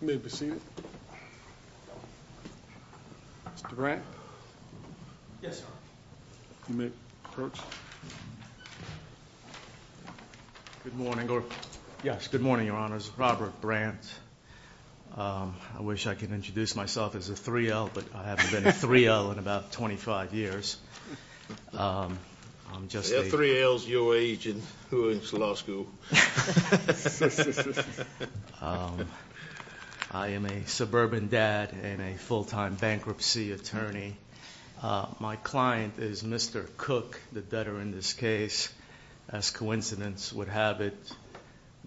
Good morning, your honors. Robert Brandt. I wish I could introduce myself as a 3L, but I haven't been a 3L in about 25 years. I am a suburban dad and a full-time bankruptcy attorney. My client is Mr. Cook, the debtor in this case. As coincidence would have it,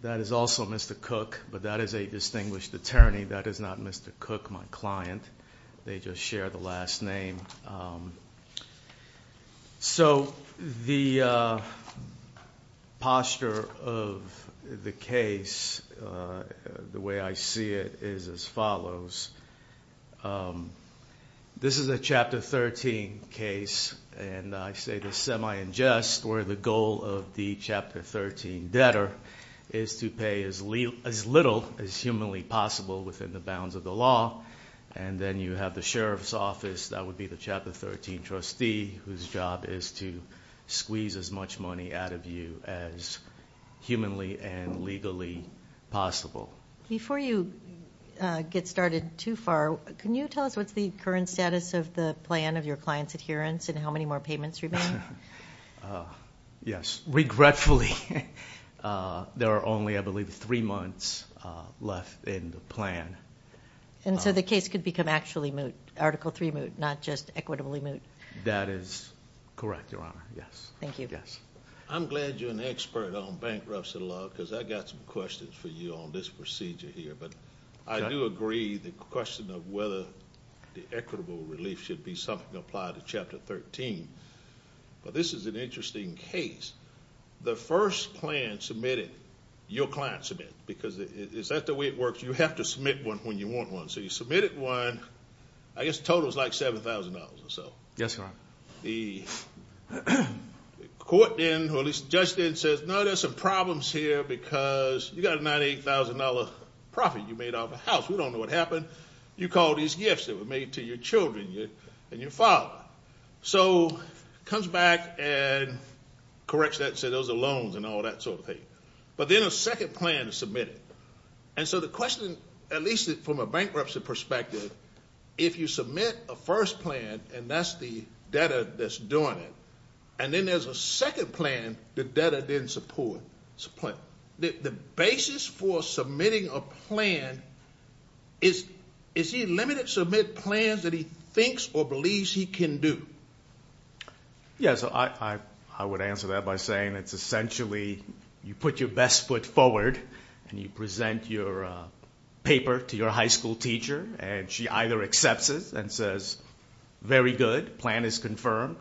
that is also Mr. Cook, but that is a distinguished attorney. That is not Mr. Cook, my client. They just share the last name. The posture of the case, the way I see it, is as follows. This is a Chapter 13 case, and I say this semi-in jest, where the goal of the Chapter 13 debtor is to pay as little as humanly possible within the bounds of the law. Then you have the Sheriff's Office, that would be the Chapter 13 trustee, whose job is to squeeze as much money out of you as humanly and legally possible. Before you get started too far, can you tell us what is the current status of the plan of your client's adherence and how many more payments remain? Yes. Regretfully, there are only, I believe, three months left in the plan. So the case could become actually moot, Article 3 moot, not just equitably moot? That is correct, Your Honor. Yes. Thank you. I'm glad you're an expert on bankruptcy law, because I've got some questions for you on this procedure here. But I do agree the question of whether the equitable relief should be something applied to Chapter 13. But this is an interesting case. The first plan submitted, your client submitted, because is that the way it works? You have to submit one when you want one. So you submitted one. I guess the total is like $7,000 or so. Yes, Your Honor. The court then, or at least the judge then says, no, there's some problems here because you got a $9,000, $8,000 profit you made off the house. We don't know what happened. You called these gifts that were made to your children and your father. So comes back and corrects that and says those are loans and all that sort of thing. But then a second plan is submitted. And so the question, at least from a bankruptcy perspective, if you submit a first plan and that's the debtor that's doing it, and then there's a second plan the debtor didn't support, the basis for submitting a plan, is he limited to submit plans that he thinks or believes he can do? Yes, I would answer that by saying it's essentially you put your best foot forward and you present your paper to your high school teacher, and she either accepts it and says, very good, plan is confirmed,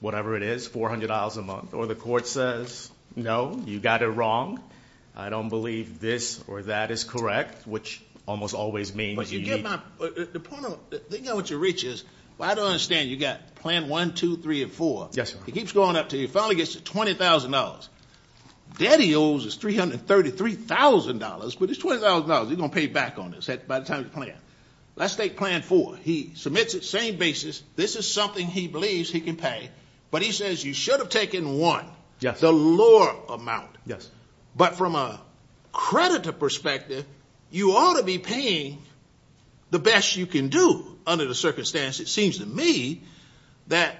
whatever it is, $400 a month. Or the court says, no, you got it wrong, I don't believe this or that is correct, which almost always means you need. The thing I want you to reach is I don't understand you got plan one, two, three, and four. Yes, sir. It keeps going up until you finally get to $20,000. Daddy owes us $333,000, but it's $20,000. You're going to pay back on this by the time you plan. Let's take plan four. He submits it, same basis. This is something he believes he can pay. But he says you should have taken one, the lower amount. Yes. But from a creditor perspective, you ought to be paying the best you can do under the circumstances. It seems to me that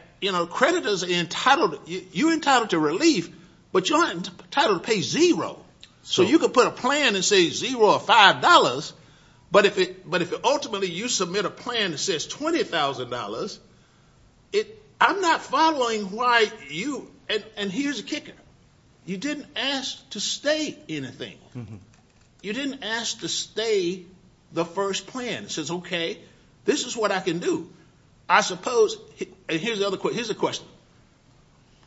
creditors are entitled, you're entitled to relief, but you're entitled to pay zero. So you could put a plan and say zero or $5, but if ultimately you submit a plan that says $20,000, I'm not following why you, and here's the kicker. You didn't ask to stay anything. You didn't ask to stay the first plan. It says, okay, this is what I can do. I suppose, and here's the question.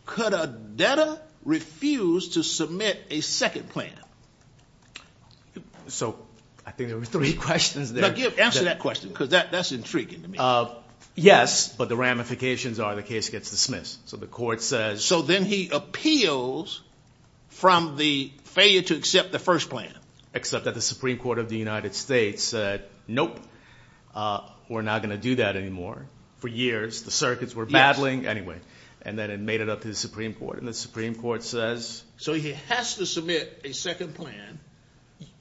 Could a debtor refuse to submit a second plan? So I think there were three questions there. Answer that question because that's intriguing to me. Yes, but the ramifications are the case gets dismissed. So then he appeals from the failure to accept the first plan. Except that the Supreme Court of the United States said, nope, we're not going to do that anymore. For years the circuits were battling. Anyway, and then it made it up to the Supreme Court, and the Supreme Court says. So he has to submit a second plan.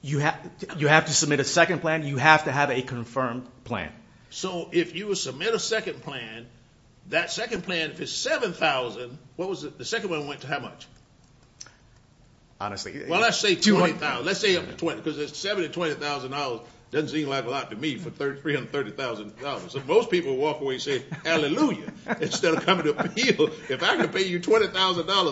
You have to submit a second plan. You have to have a confirmed plan. So if you submit a second plan, that second plan, if it's $7,000, what was it? The second one went to how much? Honestly. Well, let's say $20,000. Let's say up to $20,000 because $7,000 to $20,000 doesn't seem like a lot to me for $330,000. Most people walk away and say hallelujah instead of coming to appeal. If I could pay you $20,000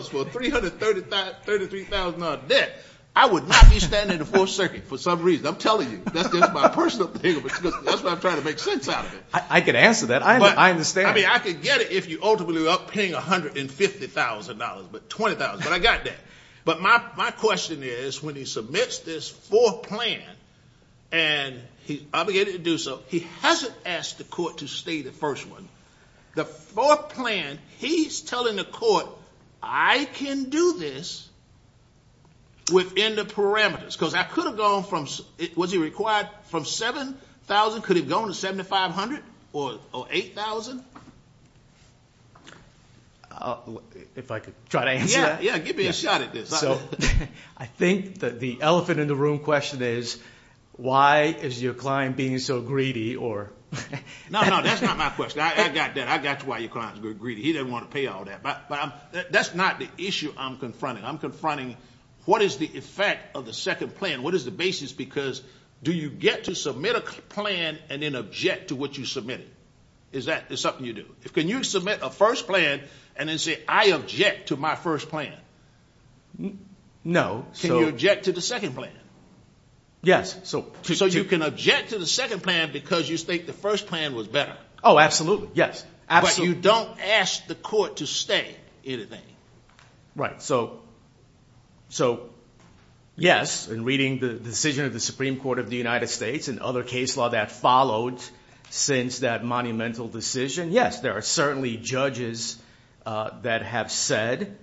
for a $33,000 debt, I would not be standing in the Fourth Circuit for some reason. I'm telling you. That's just my personal opinion. That's what I'm trying to make sense out of it. I can answer that. I understand. I mean I could get it if you ultimately end up paying $150,000, but $20,000, but I got that. But my question is when he submits this fourth plan and he's obligated to do so, he hasn't asked the court to stay the first one. The fourth plan, he's telling the court I can do this within the parameters. Was he required from $7,000? Could he have gone to $7,500 or $8,000? If I could try to answer that? Yeah, give me a shot at this. I think that the elephant in the room question is why is your client being so greedy? No, no, that's not my question. I got that. I got why your client is greedy. He doesn't want to pay all that. But that's not the issue I'm confronting. I'm confronting what is the effect of the second plan? What is the basis? Because do you get to submit a plan and then object to what you submitted? Is that something you do? Can you submit a first plan and then say I object to my first plan? No. Can you object to the second plan? Yes. So you can object to the second plan because you think the first plan was better. Oh, absolutely, yes. But you don't ask the court to stay anything. Right. So, yes, in reading the decision of the Supreme Court of the United States and other case law that followed since that monumental decision, yes, there are certainly judges that have said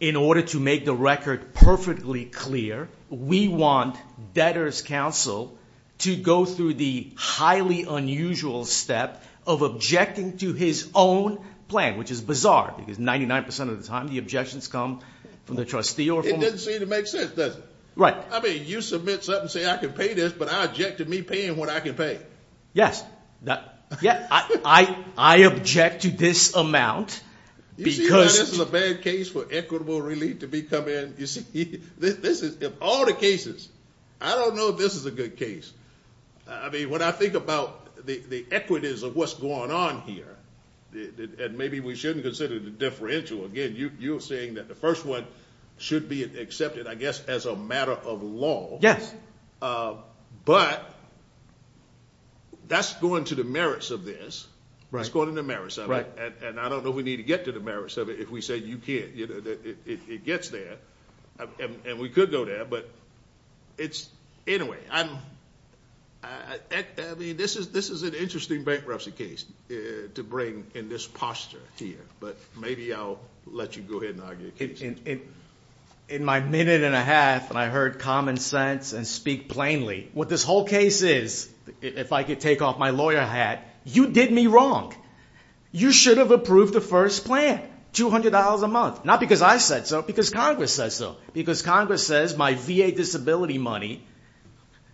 in order to make the record perfectly clear, we want debtor's counsel to go through the highly unusual step of objecting to his own plan, which is bizarre because 99% of the time the objections come from the trustee. It doesn't seem to make sense, does it? Right. I mean you submit something and say I can pay this, but I object to me paying what I can pay. Yes. I object to this amount because... You see why this is a bad case for equitable relief to be coming? You see, this is in all the cases. I don't know if this is a good case. I mean when I think about the equities of what's going on here and maybe we shouldn't consider the differential. Again, you're saying that the first one should be accepted, I guess, as a matter of law. But that's going to the merits of this. Right. It's going to the merits of it. Right. And I don't know if we need to get to the merits of it if we say you can't. It gets there, and we could go there. But anyway, this is an interesting bankruptcy case to bring in this posture here. But maybe I'll let you go ahead and argue the case. In my minute and a half, and I heard common sense and speak plainly, what this whole case is, if I could take off my lawyer hat, you did me wrong. You should have approved the first plan, $200 a month. Not because I said so, because Congress said so. Because Congress says my VA disability money,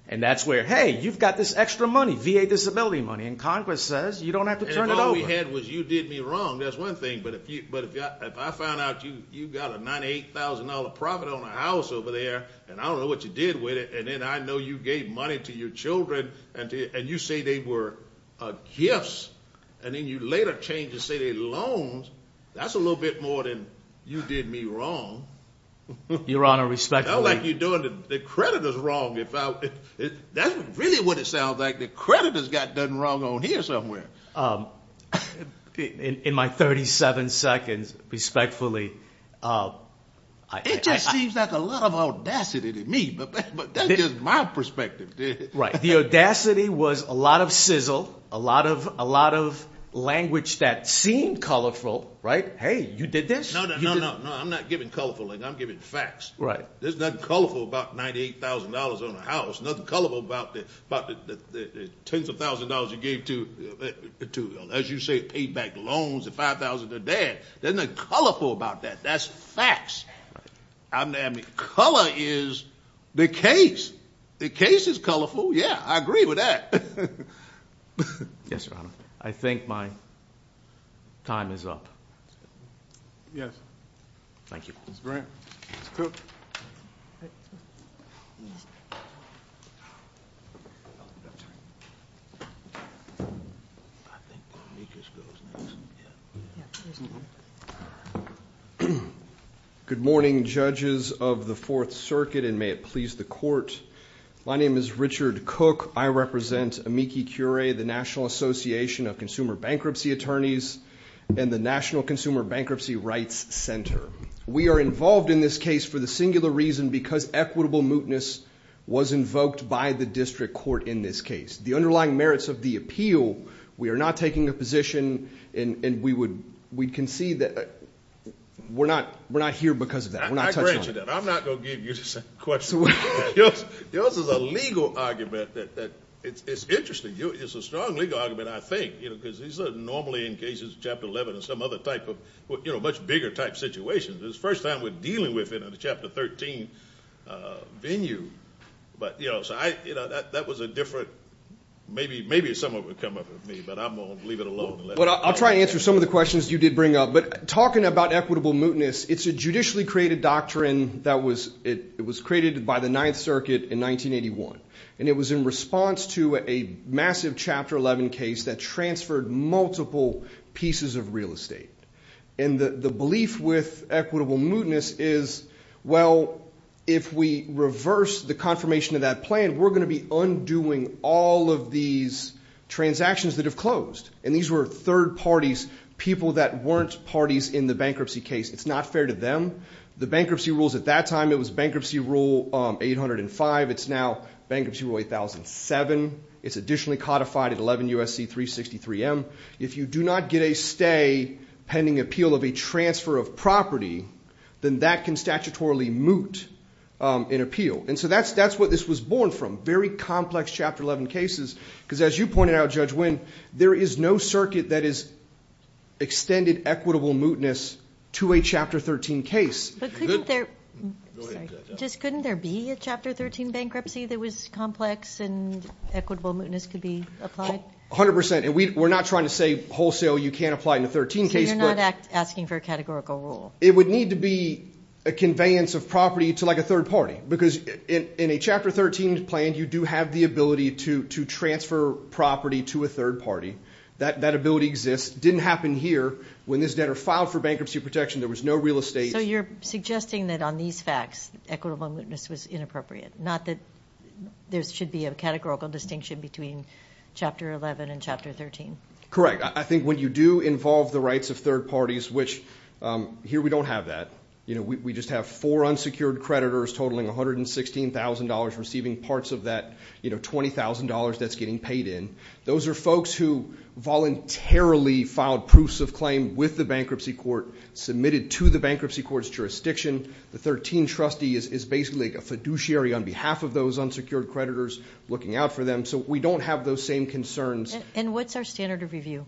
and that's where, hey, you've got this extra money, VA disability money, and Congress says you don't have to turn it over. And if all we had was you did me wrong, that's one thing. But if I found out you've got a $98,000 profit on a house over there, and I don't know what you did with it, and then I know you gave money to your children, and you say they were gifts, and then you later change and say they're loans, that's a little bit more than you did me wrong. Your Honor, respectfully. Not like you're doing the creditors wrong. That's really what it sounds like. The creditors got done wrong on here somewhere. In my 37 seconds, respectfully. It just seems like a lot of audacity to me, but that's just my perspective. Right. The audacity was a lot of sizzle, a lot of language that seemed colorful. Right? Hey, you did this. No, no, no, no. I'm not giving colorful. I'm giving facts. Right. There's nothing colorful about $98,000 on a house. Nothing colorful about the tens of thousands of dollars you gave to, as you say, paid back loans of $5,000 to dad. There's nothing colorful about that. That's facts. I mean, color is the case. The case is colorful. Yeah, I agree with that. Yes, Your Honor. I think my time is up. Yes. Thank you. That's great. Let's go. Good morning, judges of the Fourth Circuit, and may it please the court. My name is Richard Cook. I represent Amici Curie, the National Association of Consumer Bankruptcy Attorneys and the National Consumer Bankruptcy Rights Center. We are involved in this case for the singular reason because equitable mootness was invoked by the district court in this case. The underlying merits of the appeal, we are not taking a position, and we concede that we're not here because of that. We're not touching on that. I grant you that. I'm not going to give you the same question. Yours is a legal argument. It's interesting. It's a strong legal argument, I think, because these are normally in cases, Chapter 11 and some other type of much bigger type situations. This is the first time we're dealing with it in a Chapter 13 venue. But that was a different – maybe someone would come up with me, but I'm going to leave it alone. I'll try to answer some of the questions you did bring up. But talking about equitable mootness, it's a judicially created doctrine that was created by the Ninth Circuit in 1981. And it was in response to a massive Chapter 11 case that transferred multiple pieces of real estate. And the belief with equitable mootness is, well, if we reverse the confirmation of that plan, we're going to be undoing all of these transactions that have closed. And these were third parties, people that weren't parties in the bankruptcy case. It's not fair to them. The bankruptcy rules at that time, it was Bankruptcy Rule 805. It's now Bankruptcy Rule 8007. It's additionally codified at 11 U.S.C. 363M. If you do not get a stay pending appeal of a transfer of property, then that can statutorily moot an appeal. And so that's what this was born from, very complex Chapter 11 cases, because as you pointed out, Judge Winn, there is no circuit that has extended equitable mootness to a Chapter 13 case. But couldn't there be a Chapter 13 bankruptcy that was complex and equitable mootness could be applied? A hundred percent. And we're not trying to say wholesale you can't apply in a 13 case. So you're not asking for a categorical rule? It would need to be a conveyance of property to like a third party, because in a Chapter 13 plan, you do have the ability to transfer property to a third party. That ability exists. It didn't happen here. When this debtor filed for bankruptcy protection, there was no real estate. So you're suggesting that on these facts, equitable mootness was inappropriate, not that there should be a categorical distinction between Chapter 11 and Chapter 13? Correct. I think when you do involve the rights of third parties, which here we don't have that. We just have four unsecured creditors totaling $116,000, receiving parts of that $20,000 that's getting paid in. Those are folks who voluntarily filed proofs of claim with the bankruptcy court, submitted to the bankruptcy court's jurisdiction. The 13 trustee is basically a fiduciary on behalf of those unsecured creditors looking out for them. So we don't have those same concerns. And what's our standard of review?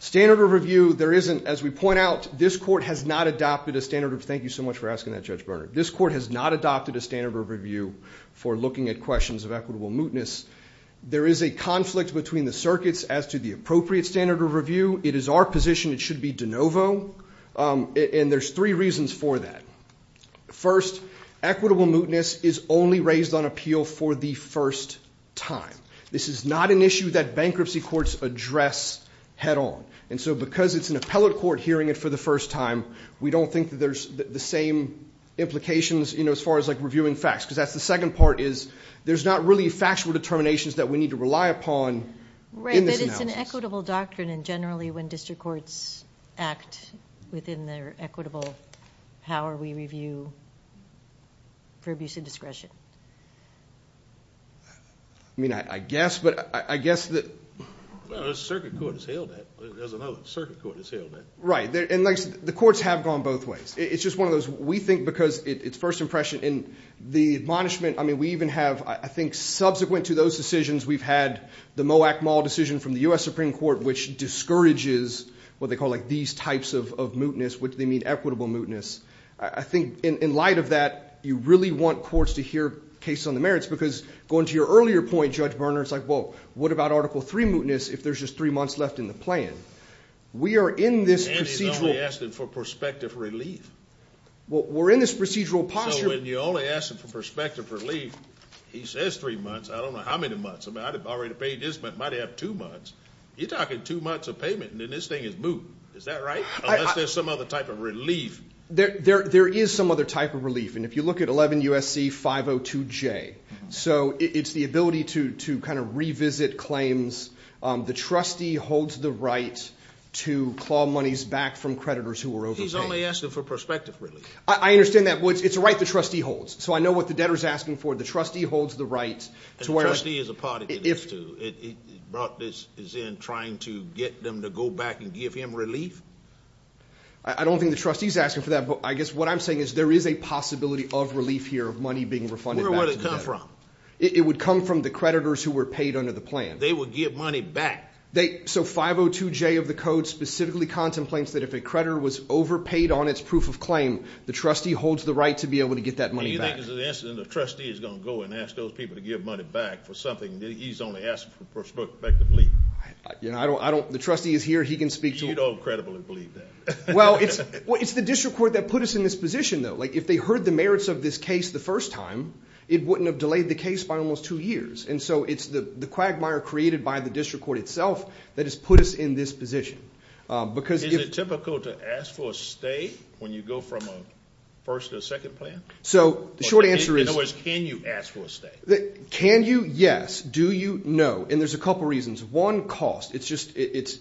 Standard of review, there isn't. As we point out, this court has not adopted a standard of review. Thank you so much for asking that, Judge Berner. This court has not adopted a standard of review for looking at questions of equitable mootness. There is a conflict between the circuits as to the appropriate standard of review. It is our position it should be de novo, and there's three reasons for that. First, equitable mootness is only raised on appeal for the first time. This is not an issue that bankruptcy courts address head on. And so because it's an appellate court hearing it for the first time, we don't think that there's the same implications, you know, as far as, like, reviewing facts. Because that's the second part is there's not really factual determinations that we need to rely upon in this analysis. Right, but it's an equitable doctrine, and generally when district courts act within their equitable power, we review for abuse of discretion. I mean, I guess, but I guess that the circuit court has held that. There's another circuit court that's held that. Right, and the courts have gone both ways. It's just one of those. We think because it's first impression, and the admonishment, I mean, we even have, I think, subsequent to those decisions we've had the Moak Mall decision from the U.S. Supreme Court, which discourages what they call, like, these types of mootness, which they mean equitable mootness. I think in light of that, you really want courts to hear cases on the merits, because going to your earlier point, Judge Berner, it's like, well, what about Article III mootness if there's just three months left in the plan? We are in this procedural. And he's only asking for prospective relief. Well, we're in this procedural posture. So when you only ask him for prospective relief, he says three months. I don't know how many months. I mean, I already paid this, but it might have two months. You're talking two months of payment, and then this thing is moot. Is that right? Unless there's some other type of relief. There is some other type of relief, and if you look at 11 U.S.C. 502J, so it's the ability to kind of revisit claims. The trustee holds the right to claw monies back from creditors who are overpaying. He's only asking for prospective relief. I understand that. It's a right the trustee holds. So I know what the debtor is asking for. The trustee holds the right. And the trustee is a part of this, too. It brought this in trying to get them to go back and give him relief? I don't think the trustee is asking for that. But I guess what I'm saying is there is a possibility of relief here, of money being refunded back. I don't remember where it would come from. It would come from the creditors who were paid under the plan. They would give money back. So 502J of the code specifically contemplates that if a creditor was overpaid on its proof of claim, the trustee holds the right to be able to get that money back. Do you think it's an incident the trustee is going to go and ask those people to give money back for something that he's only asking for prospective relief? The trustee is here. He can speak to them. You don't credibly believe that. Well, it's the district court that put us in this position, though. If they heard the merits of this case the first time, it wouldn't have delayed the case by almost two years. And so it's the quagmire created by the district court itself that has put us in this position. Is it typical to ask for a stay when you go from a first to a second plan? In other words, can you ask for a stay? Can you? Yes. Do you? No. And there's a couple reasons. One, cost.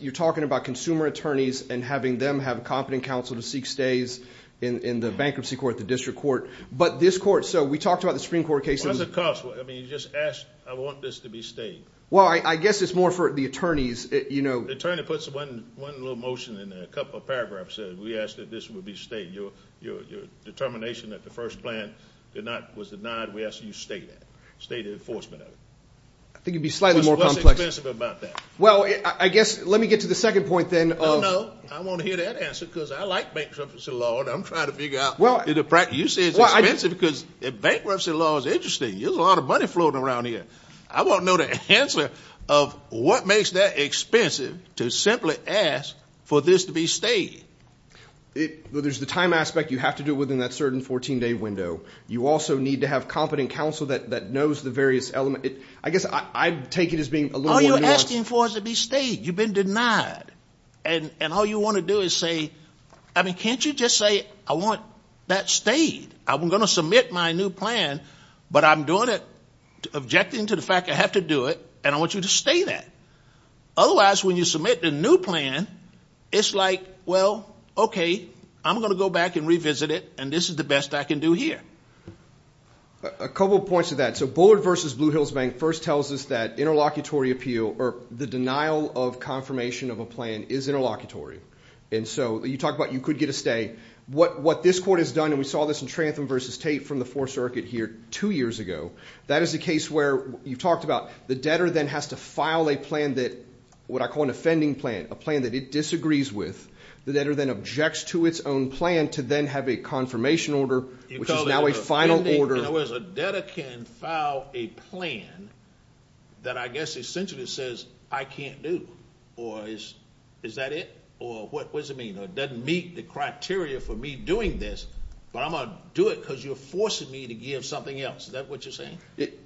You're talking about consumer attorneys and having them have competent counsel to seek stays in the bankruptcy court, the district court. But this court, so we talked about the Supreme Court case. Why is it cost? I mean, you just asked, I want this to be stayed. Well, I guess it's more for the attorneys. The attorney puts one little motion in a couple of paragraphs that we asked that this would be stayed. Your determination that the first plan was denied, we asked you to stay that, stay the enforcement of it. I think it would be slightly more complex. What's expensive about that? Well, I guess let me get to the second point then. No, no, no. I want to hear that answer because I like bankruptcy law and I'm trying to figure out. You say it's expensive because bankruptcy law is interesting. There's a lot of money floating around here. I want to know the answer of what makes that expensive to simply ask for this to be stayed. There's the time aspect. You have to do it within that certain 14-day window. You also need to have competent counsel that knows the various elements. I guess I take it as being a little more nuanced. All you're asking for is to be stayed. You've been denied. And all you want to do is say, I mean, can't you just say I want that stayed? I'm going to submit my new plan, but I'm doing it objecting to the fact I have to do it, and I want you to stay that. Otherwise, when you submit the new plan, it's like, well, okay, I'm going to go back and revisit it, and this is the best I can do here. A couple points to that. So Bullard v. Blue Hills Bank first tells us that interlocutory appeal or the denial of confirmation of a plan is interlocutory. And so you talk about you could get a stay. What this court has done, and we saw this in Trantham v. Tate from the Fourth Circuit here two years ago, that is a case where you've talked about the debtor then has to file a plan that what I call an offending plan, a plan that it disagrees with. The debtor then objects to its own plan to then have a confirmation order, which is now a final order. In other words, a debtor can file a plan that I guess essentially says I can't do, or is that it, or what does it mean? It doesn't meet the criteria for me doing this, but I'm going to do it because you're forcing me to give something else. Is that what you're saying?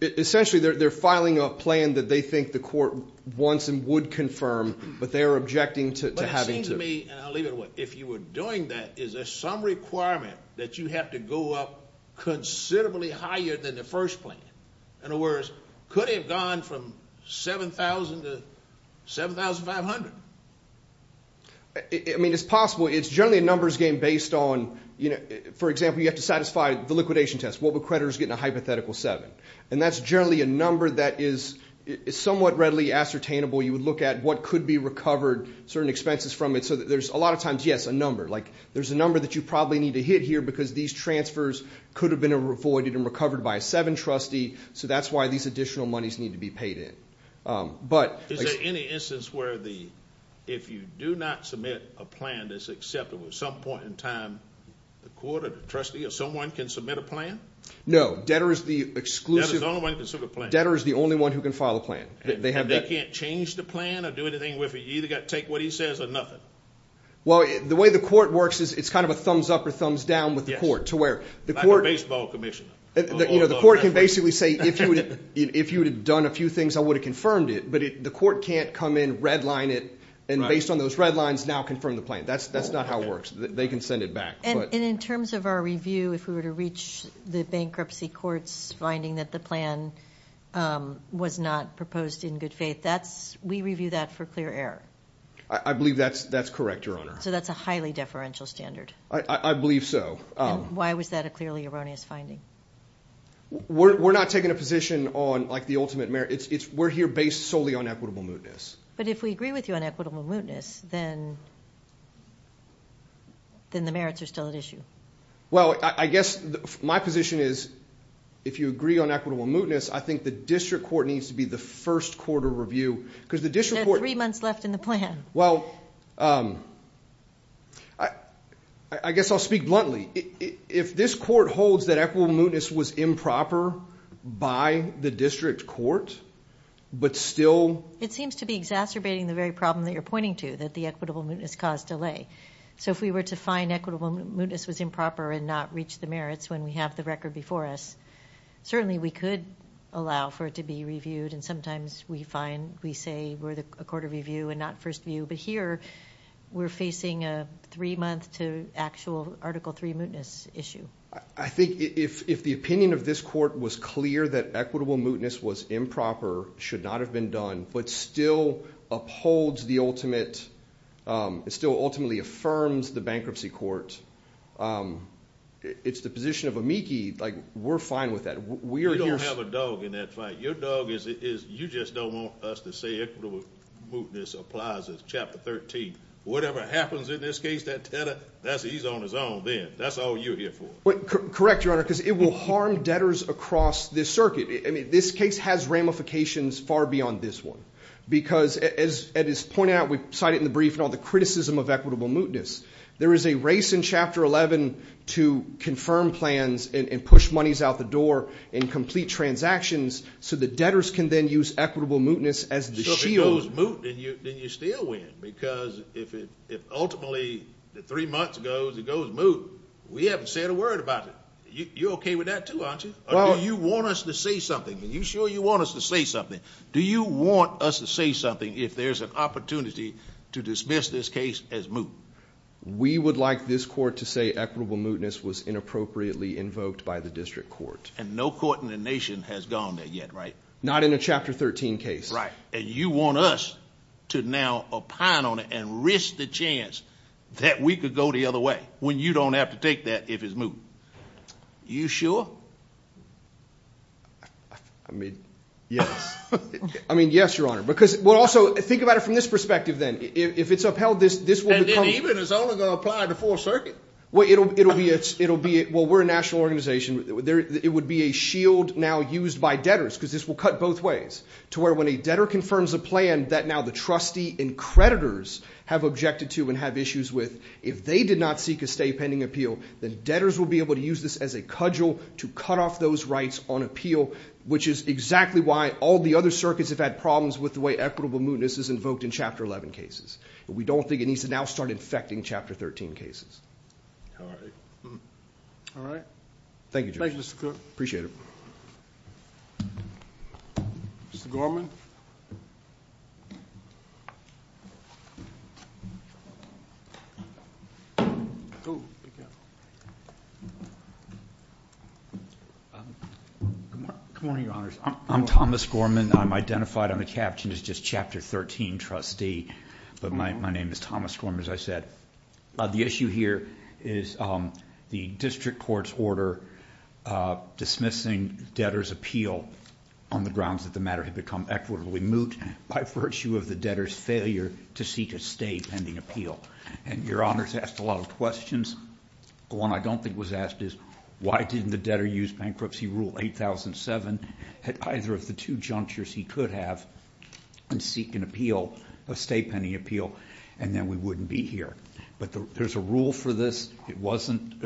Essentially, they're filing a plan that they think the court wants and would confirm, but they're objecting to having to. If you were doing that, is there some requirement that you have to go up considerably higher than the first plan? In other words, could it have gone from $7,000 to $7,500? I mean, it's possible. It's generally a numbers game based on, for example, you have to satisfy the liquidation test. What would creditors get in a hypothetical seven? And that's generally a number that is somewhat readily ascertainable. You would look at what could be recovered, certain expenses from it, so there's a lot of times, yes, a number. There's a number that you probably need to hit here because these transfers could have been avoided and recovered by a seven trustee, so that's why these additional monies need to be paid in. Is there any instance where if you do not submit a plan that's acceptable at some point in time, the court or the trustee or someone can submit a plan? No. Debtor is the only one who can file a plan. And they can't change the plan or do anything with it? You either got to take what he says or nothing? Well, the way the court works is it's kind of a thumbs up or thumbs down with the court. Like a baseball commissioner. The court can basically say if you would have done a few things, I would have confirmed it, but the court can't come in, redline it, and based on those red lines now confirm the plan. That's not how it works. They can send it back. And in terms of our review, if we were to reach the bankruptcy court's finding that the plan was not proposed in good faith, we review that for clear error? I believe that's correct, Your Honor. So that's a highly deferential standard? I believe so. And why was that a clearly erroneous finding? We're not taking a position on the ultimate merit. We're here based solely on equitable mootness. But if we agree with you on equitable mootness, then the merits are still at issue. Well, I guess my position is if you agree on equitable mootness, I think the district court needs to be the first court of review. There are three months left in the plan. Well, I guess I'll speak bluntly. If this court holds that equitable mootness was improper by the district court but still – It seems to be exacerbating the very problem that you're pointing to, that the equitable mootness caused delay. So if we were to find equitable mootness was improper and not reach the merits when we have the record before us, certainly we could allow for it to be reviewed. And sometimes we say we're a court of review and not first view. But here we're facing a three-month to actual Article III mootness issue. I think if the opinion of this court was clear that equitable mootness was improper, should not have been done, but still upholds the ultimate – it still ultimately affirms the bankruptcy court, it's the position of amici. Like we're fine with that. We are here – You don't have a dog in that fight. Your dog is – you just don't want us to say equitable mootness applies as Chapter 13. Whatever happens in this case, that debtor, he's on his own then. That's all you're here for. Correct, Your Honor, because it will harm debtors across this circuit. I mean this case has ramifications far beyond this one because, as is pointed out, we cited in the brief and all the criticism of equitable mootness. There is a race in Chapter 11 to confirm plans and push monies out the door and complete transactions so that debtors can then use equitable mootness as the shield. If it goes moot, then you still win because if ultimately the three months goes, it goes moot, we haven't said a word about it. You're okay with that too, aren't you? Or do you want us to say something? Are you sure you want us to say something? Do you want us to say something if there's an opportunity to dismiss this case as moot? We would like this court to say equitable mootness was inappropriately invoked by the district court. And no court in the nation has gone there yet, right? Not in a Chapter 13 case. Right. And you want us to now opine on it and risk the chance that we could go the other way when you don't have to take that if it's moot. You sure? I mean, yes. I mean, yes, Your Honor, because we'll also think about it from this perspective then. If it's upheld, this will become – And then even it's only going to apply to full circuit. Well, it'll be a – well, we're a national organization. It would be a shield now used by debtors because this will cut both ways to where when a debtor confirms a plan that now the trustee and creditors have objected to and have issues with, if they did not seek a stay pending appeal, then debtors will be able to use this as a cudgel to cut off those rights on appeal, which is exactly why all the other circuits have had problems with the way equitable mootness is invoked in Chapter 11 cases. We don't think it needs to now start infecting Chapter 13 cases. All right. Thank you, Judge. Thank you, Mr. Cook. Appreciate it. Good morning, Your Honors. I'm Thomas Gorman. I'm identified on the caption as just Chapter 13 trustee, but my name is Thomas Gorman, as I said. The issue here is the district court's order dismissing debtors' appeal on the grounds that the matter had become equitably moot by virtue of the debtor's failure to seek a stay pending appeal. And Your Honors asked a lot of questions. The one I don't think was asked is why didn't the debtor use Bankruptcy Rule 8007 at either of the two junctures he could have and seek an appeal, a stay pending appeal, and then we wouldn't be here. But there's a rule for this. It wasn't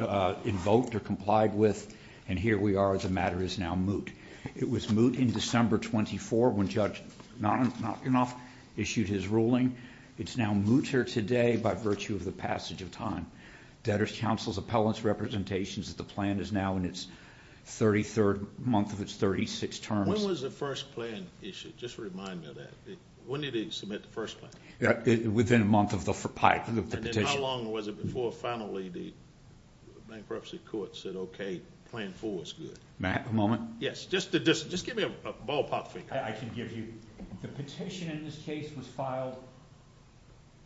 invoked or complied with, and here we are. The matter is now moot. It was moot in December 24 when Judge Notgenhoff issued his ruling. It's now moot here today by virtue of the passage of time. Debtor's counsel's appellant's representations that the plan is now in its 33rd month of its 36 terms. When was the first plan issued? Just remind me of that. When did he submit the first plan? Within a month of the petition. And then how long was it before finally the bankruptcy court said, okay, plan four is good? Matt, a moment. Yes, just give me a ballpark figure. I can give you. The petition in this case was filed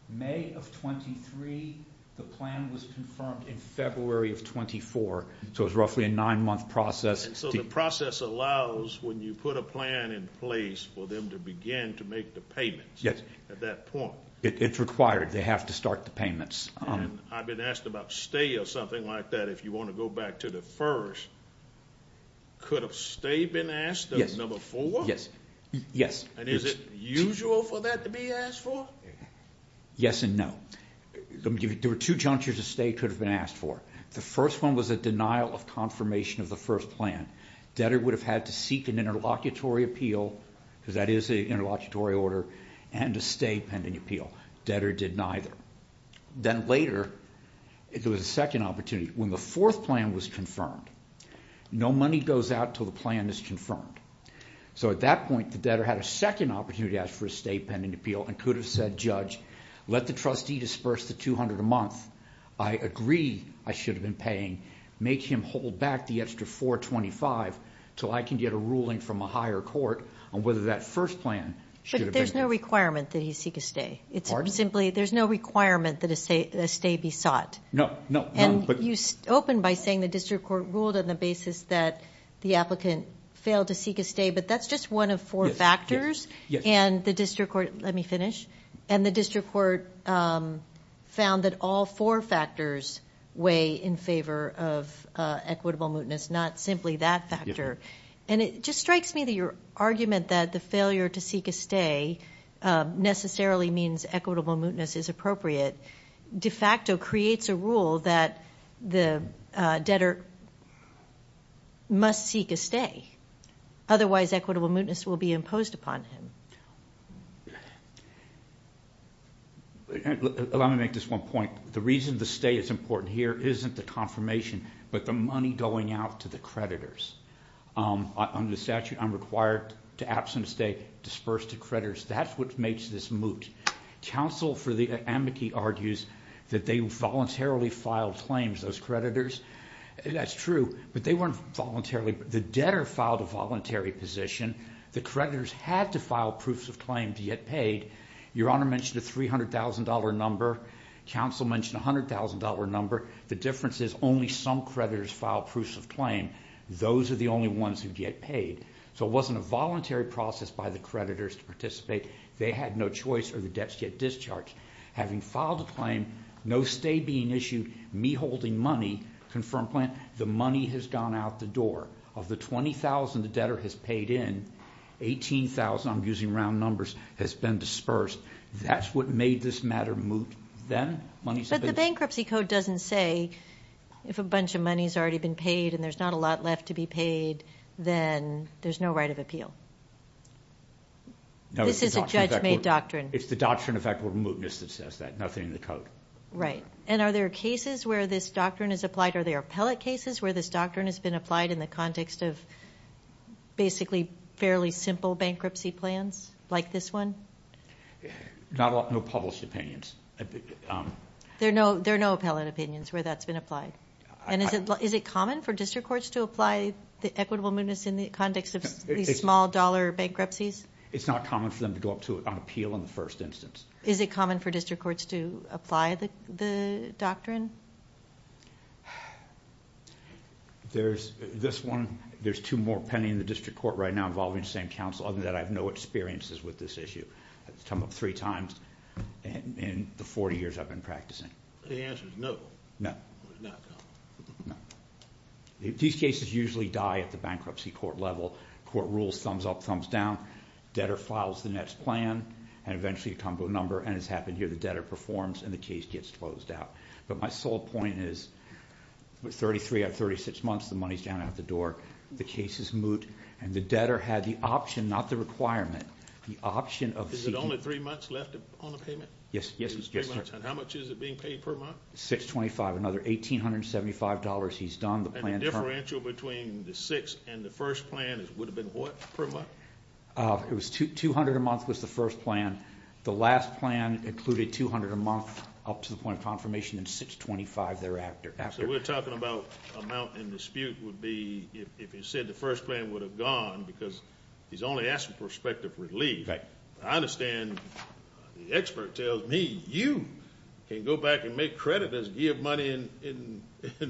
May of 23. The plan was confirmed in February of 24, so it was roughly a nine-month process. So the process allows when you put a plan in place for them to begin to make the payments at that point. It's required. They have to start the payments. I've been asked about stay or something like that if you want to go back to the first. Could a stay been asked of number four? Yes. And is it usual for that to be asked for? Yes and no. There were two junctures a stay could have been asked for. The first one was a denial of confirmation of the first plan. Debtor would have had to seek an interlocutory appeal, because that is an interlocutory order, and a stay pending appeal. Debtor did neither. Then later, there was a second opportunity. When the fourth plan was confirmed, no money goes out until the plan is confirmed. So at that point, the debtor had a second opportunity to ask for a stay pending appeal and could have said, Judge, let the trustee disperse the $200 a month. I agree I should have been paying. Make him hold back the extra $425 until I can get a ruling from a higher court on whether that first plan should have been used. But there's no requirement that he seek a stay. Pardon? There's no requirement that a stay be sought. No. And you open by saying the district court ruled on the basis that the applicant failed to seek a stay, but that's just one of four factors, and the district court found that all four factors weigh in favor of equitable mootness, not simply that factor. And it just strikes me that your argument that the failure to seek a stay necessarily means equitable mootness is appropriate de facto creates a rule that the debtor must seek a stay. Otherwise equitable mootness will be imposed upon him. Let me make this one point. The reason the stay is important here isn't the confirmation, but the money going out to the creditors. Under the statute, I'm required to absent a stay, disperse to creditors. That's what makes this moot. Counsel for the amici argues that they voluntarily filed claims, those creditors. That's true, but they weren't voluntarily. The debtor filed a voluntary position. The creditors had to file proofs of claim to get paid. Your Honor mentioned a $300,000 number. Counsel mentioned a $100,000 number. The difference is only some creditors filed proofs of claim. Those are the only ones who get paid. So it wasn't a voluntary process by the creditors to participate. They had no choice or the debts get discharged. Having filed a claim, no stay being issued, me holding money, confirmed plan, the money has gone out the door. Of the $20,000 the debtor has paid in, $18,000, I'm using round numbers, has been dispersed. That's what made this matter moot then. But the bankruptcy code doesn't say if a bunch of money has already been paid and there's not a lot left to be paid, then there's no right of appeal. This is a judge-made doctrine. It's the doctrine of equitable mootness that says that. Nothing in the code. Right. And are there cases where this doctrine is applied? Are there appellate cases where this doctrine has been applied in the context of basically fairly simple bankruptcy plans like this one? Not a lot. No published opinions. There are no appellate opinions where that's been applied. Is it common for district courts to apply the equitable mootness in the context of these small dollar bankruptcies? It's not common for them to go up to it on appeal in the first instance. Is it common for district courts to apply the doctrine? There's this one. There's two more pending in the district court right now involving the same counsel. Other than that, I have no experiences with this issue. I've come up three times in the 40 years I've been practicing. The answer is no. No. It's not common. No. These cases usually die at the bankruptcy court level. Court rules, thumbs up, thumbs down. Debtor files the next plan, and eventually a combo number, and it's happened here. The debtor performs, and the case gets closed out. But my sole point is with 33 out of 36 months, the money's down out the door. The case is moot, and the debtor had the option, not the requirement, the option of seeking. Is it only three months left on the payment? Yes. It's three months, and how much is it being paid per month? $625. Another $1,875 he's done. And the differential between the six and the first plan would have been what per month? It was $200 a month was the first plan. The last plan included $200 a month up to the point of confirmation, and $625 thereafter. So we're talking about amount in dispute would be if you said the first plan would have gone because he's only asking for perspective relief. Right. I understand the expert tells me you can go back and make creditors give money in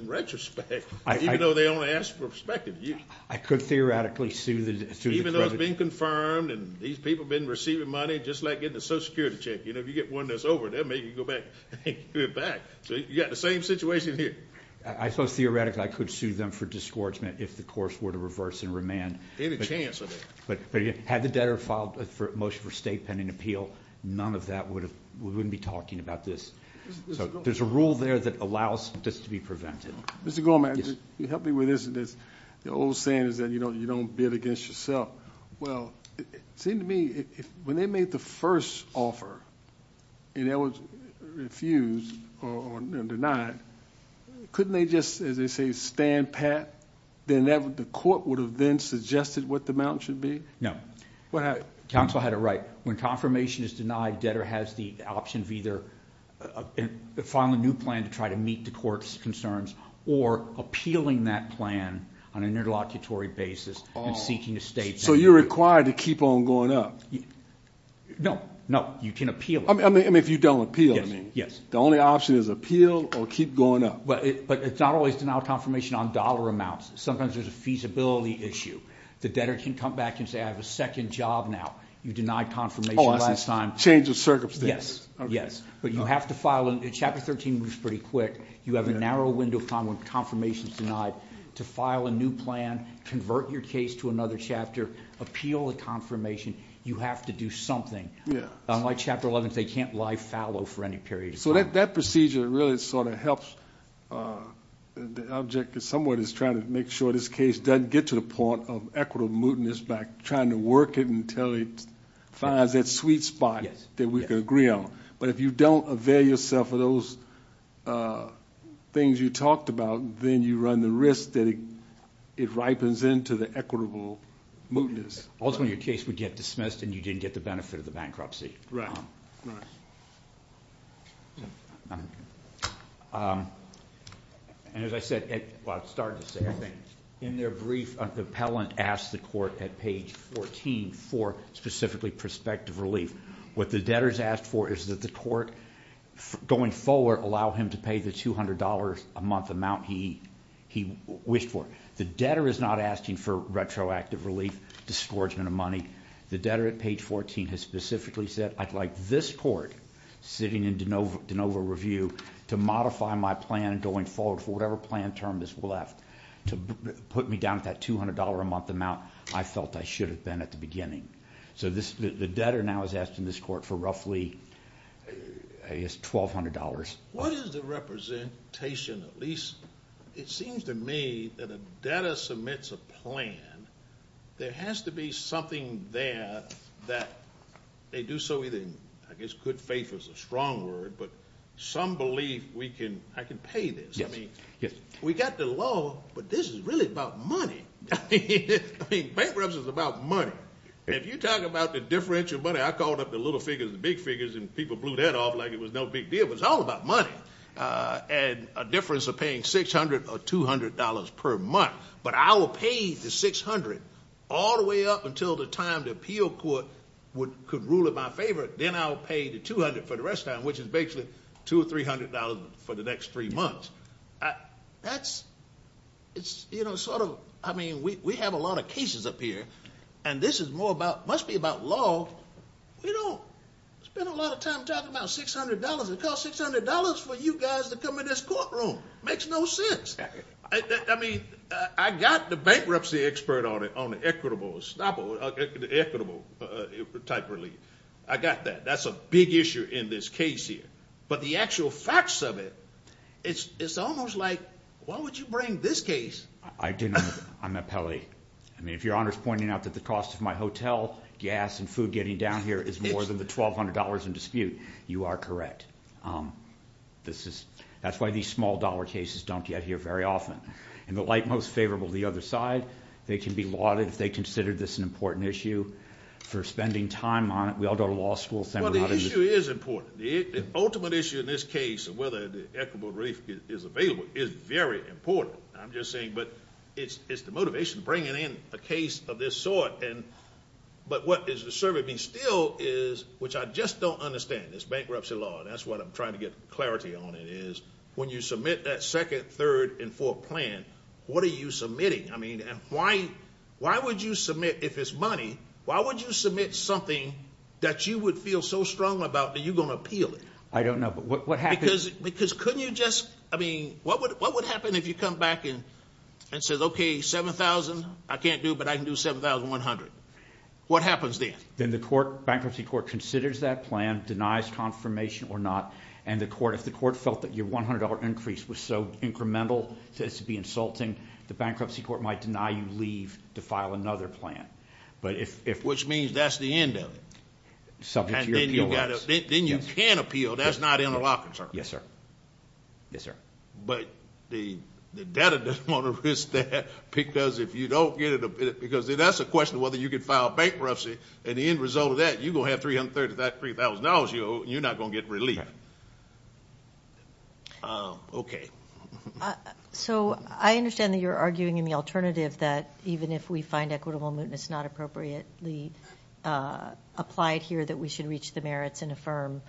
retrospect, even though they only ask for perspective. I could theoretically sue the creditors. Even though it's been confirmed, and these people have been receiving money, just like getting a Social Security check. If you get one that's over, they'll make you go back and give it back. So you've got the same situation here. I suppose theoretically I could sue them for disgorgement if the courts were to reverse and remand. Any chance of that. But had the debtor filed a motion for state pending appeal, none of that would have – we wouldn't be talking about this. So there's a rule there that allows this to be prevented. Mr. Gorman, help me with this. The old saying is that you don't bid against yourself. Well, it seemed to me when they made the first offer and it was refused or denied, couldn't they just, as they say, stand pat? The court would have then suggested what the amount should be? Counsel had it right. When confirmation is denied, debtor has the option of either filing a new plan to try to meet the court's concerns or appealing that plan on an interlocutory basis and seeking a statement. So you're required to keep on going up. No, no. You can appeal it. I mean, if you don't appeal, I mean. The only option is appeal or keep going up. But it's not always denial of confirmation on dollar amounts. Sometimes there's a feasibility issue. The debtor can come back and say, I have a second job now. You denied confirmation last time. Change of circumstances. Yes, yes. But you have to file – Chapter 13 moves pretty quick. You have a narrow window of time when confirmation is denied to file a new plan, convert your case to another chapter, appeal the confirmation. You have to do something. Unlike Chapter 11, they can't lie fallow for any period of time. So that procedure really sort of helps the object somewhat is trying to make sure this case doesn't get to the point of equitable mootness by trying to work it until it finds that sweet spot that we can agree on. But if you don't avail yourself of those things you talked about, then you run the risk that it ripens into the equitable mootness. Ultimately, your case would get dismissed and you didn't get the benefit of the bankruptcy. Right, right. As I said – well, I started to say, I think. In their brief, the appellant asks the court at page 14 for specifically prospective relief. What the debtor is asked for is that the court, going forward, allow him to pay the $200 a month amount he wished for. The debtor is not asking for retroactive relief, dischargement of money. The debtor at page 14 has specifically said, I'd like this court, sitting in DeNova Review, to modify my plan going forward for whatever plan term this left to put me down at that $200 a month amount I felt I should have been at the beginning. So the debtor now is asking this court for roughly $1,200. What is the representation, at least it seems to me, that a debtor submits a plan, there has to be something there that they do so in, I guess, good faith is a strong word, but some belief I can pay this. I mean, we got the law, but this is really about money. Bankruptcy is about money. If you talk about the differential money, I called up the little figures, the big figures, and people blew their heads off like it was no big deal. It was all about money and a difference of paying $600 or $200 per month. But I will pay the $600 all the way up until the time the appeal court could rule it my favor. Then I will pay the $200 for the rest of the time, which is basically $200 or $300 for the next three months. We have a lot of cases up here, and this must be about law. We don't spend a lot of time talking about $600. It costs $600 for you guys to come in this courtroom. It makes no sense. I mean, I got the bankruptcy expert on it, on equitable type relief. I got that. That's a big issue in this case here. But the actual facts of it, it's almost like why would you bring this case? I didn't. I'm appellee. I mean, if Your Honor is pointing out that the cost of my hotel, gas, and food getting down here is more than the $1,200 in dispute, you are correct. That's why these small-dollar cases don't get here very often. In the light most favorable to the other side, they can be lauded if they consider this an important issue. For spending time on it, we all go to law school. Well, the issue is important. The ultimate issue in this case of whether the equitable relief is available is very important. I'm just saying it's the motivation to bring in a case of this sort. But what is disturbing me still is, which I just don't understand, this bankruptcy law, that's what I'm trying to get clarity on it, is when you submit that second, third, and fourth plan, what are you submitting? I mean, why would you submit, if it's money, why would you submit something that you would feel so strongly about that you're going to appeal it? I don't know. But what happens? Because couldn't you just, I mean, what would happen if you come back and said, okay, 7,000 I can't do, but I can do 7,100? What happens then? Then the bankruptcy court considers that plan, denies confirmation or not, and if the court felt that your $100 increase was so incremental that it should be insulting, the bankruptcy court might deny you leave to file another plan. Which means that's the end of it. Subject to your appeal laws. Then you can appeal. That's not interlocking, sir. Yes, sir. Yes, sir. But the debtor doesn't want to risk that because if you don't get it, because that's a question of whether you can file bankruptcy, and the end result of that, you're going to have $3,000, you're not going to get relief. Okay. So I understand that you're arguing in the alternative that even if we find equitable mootness not appropriately applied here, that we should reach the merits and affirm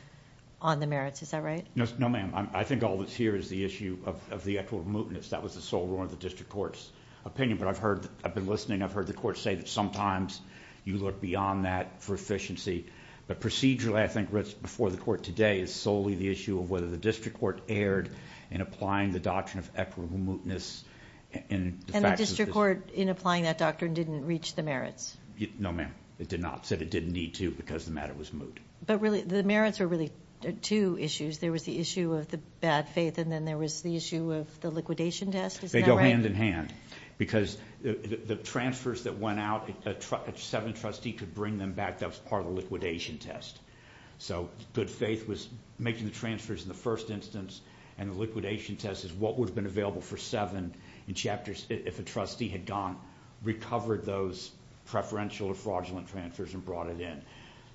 on the merits. Is that right? No, ma'am. I think all that's here is the issue of the equitable mootness. That was the sole rule of the district court's opinion. But I've heard, I've been listening, I've heard the court say that sometimes you look beyond that for efficiency. But procedurally, I think, before the court today, is solely the issue of whether the district court erred in applying the doctrine of equitable mootness. And the district court, in applying that doctrine, didn't reach the merits? No, ma'am. It did not. It said it didn't need to because the matter was moot. But really, the merits are really two issues. There was the issue of the bad faith, and then there was the issue of the liquidation test. Is that right? They go hand-in-hand. Because the transfers that went out, if a 7th trustee could bring them back, that was part of the liquidation test. So good faith was making the transfers in the first instance, and the liquidation test is what would have been available for 7th if a trustee had gone, recovered those preferential or fraudulent transfers, and brought it in.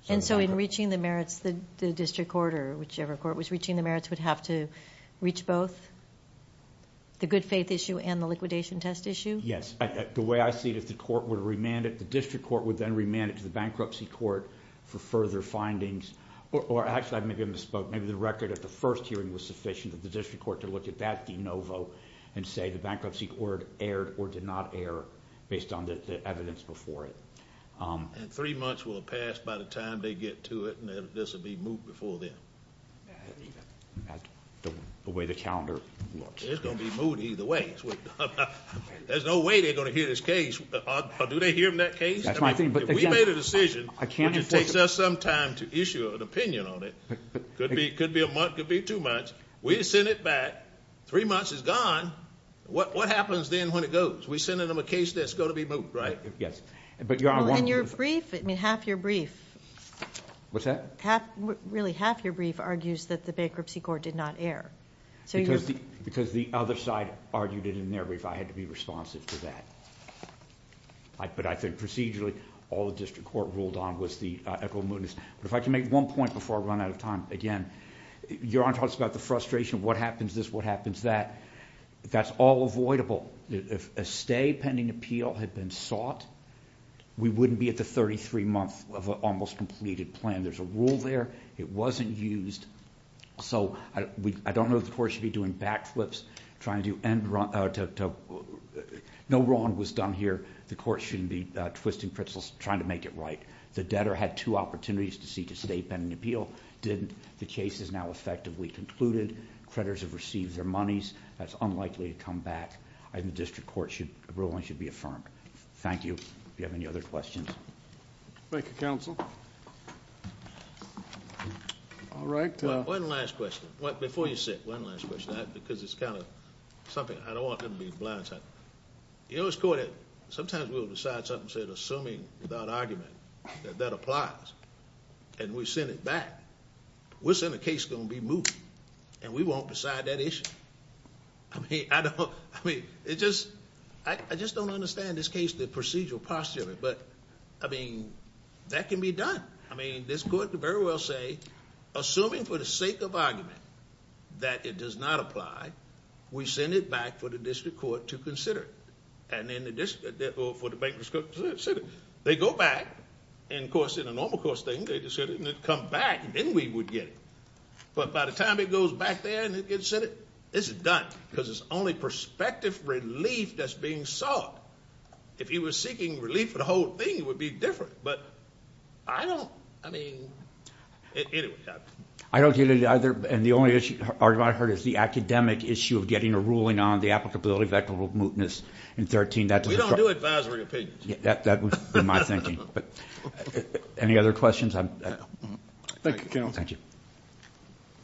And so in reaching the merits, the district court or whichever court was reaching the merits would have to reach both? The good faith issue and the liquidation test issue? Yes. The way I see it is the court would remand it. The district court would then remand it to the bankruptcy court for further findings. Or actually, I may have misspoke. Maybe the record at the first hearing was sufficient for the district court to look at that de novo and say the bankruptcy court erred or did not err based on the evidence before it. And three months will have passed by the time they get to it, and this will be moved before then. The way the calendar looks. It's going to be moved either way. There's no way they're going to hear this case. Do they hear that case? If we made a decision, which it takes us some time to issue an opinion on it, could be a month, could be two months, we send it back, three months is gone, what happens then when it goes? We send them a case that's going to be moved, right? Yes. And your brief, I mean, half your brief. What's that? Really, half your brief argues that the bankruptcy court did not err. Because the other side argued it in their brief, I had to be responsive to that. But I think procedurally, all the district court ruled on was the equitable mootness. But if I can make one point before I run out of time, again, Your Honor talks about the frustration, what happens this, what happens that. That's all avoidable. If a stay pending appeal had been sought, we wouldn't be at the 33-month of an almost completed plan. There's a rule there. It wasn't used. So I don't know if the court should be doing backflips, trying to do... No wrong was done here. The court shouldn't be twisting pretzels trying to make it right. The debtor had two opportunities to see to stay pending appeal, didn't. The case is now effectively concluded. Creditors have received their monies. That's unlikely to come back. And the district court ruling should be affirmed. Thank you. Do you have any other questions? Thank you, counsel. All right. One last question. Before you sit, one last question. Because it's kind of something... I don't want them to be blindsided. You know, sometimes we will decide something assuming without argument that that applies. And we send it back. We'll send a case that's going to be moot. And we won't decide that issue. I mean, I don't... I mean, it just... I just don't understand this case, the procedural postulate. But, I mean, that can be done. I mean, this court could very well say, assuming for the sake of argument that it does not apply, we send it back for the district court to consider it. And then for the bankers to consider it. They go back. And, of course, in a normal court statement, they'd come back and then we would get it. But by the time it goes back there and it gets sent, it's done. Because it's only prospective relief that's being sought. If he was seeking relief for the whole thing, it would be different. But I don't... I mean, anyway. I don't get it either. And the only argument I heard is the academic issue of getting a ruling on the applicability of equitable mootness in 13. We don't do advisory opinions. That was my thinking. Any other questions? Thank you, counsel. Thank you.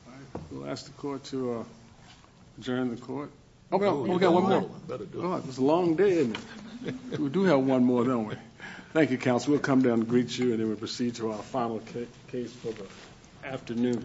All right. We'll ask the court to adjourn the court. Oh, we got one more. It was a long day. We do have one more, don't we? Thank you, counsel. We'll come down and greet you and then we'll proceed to our final case for the afternoon.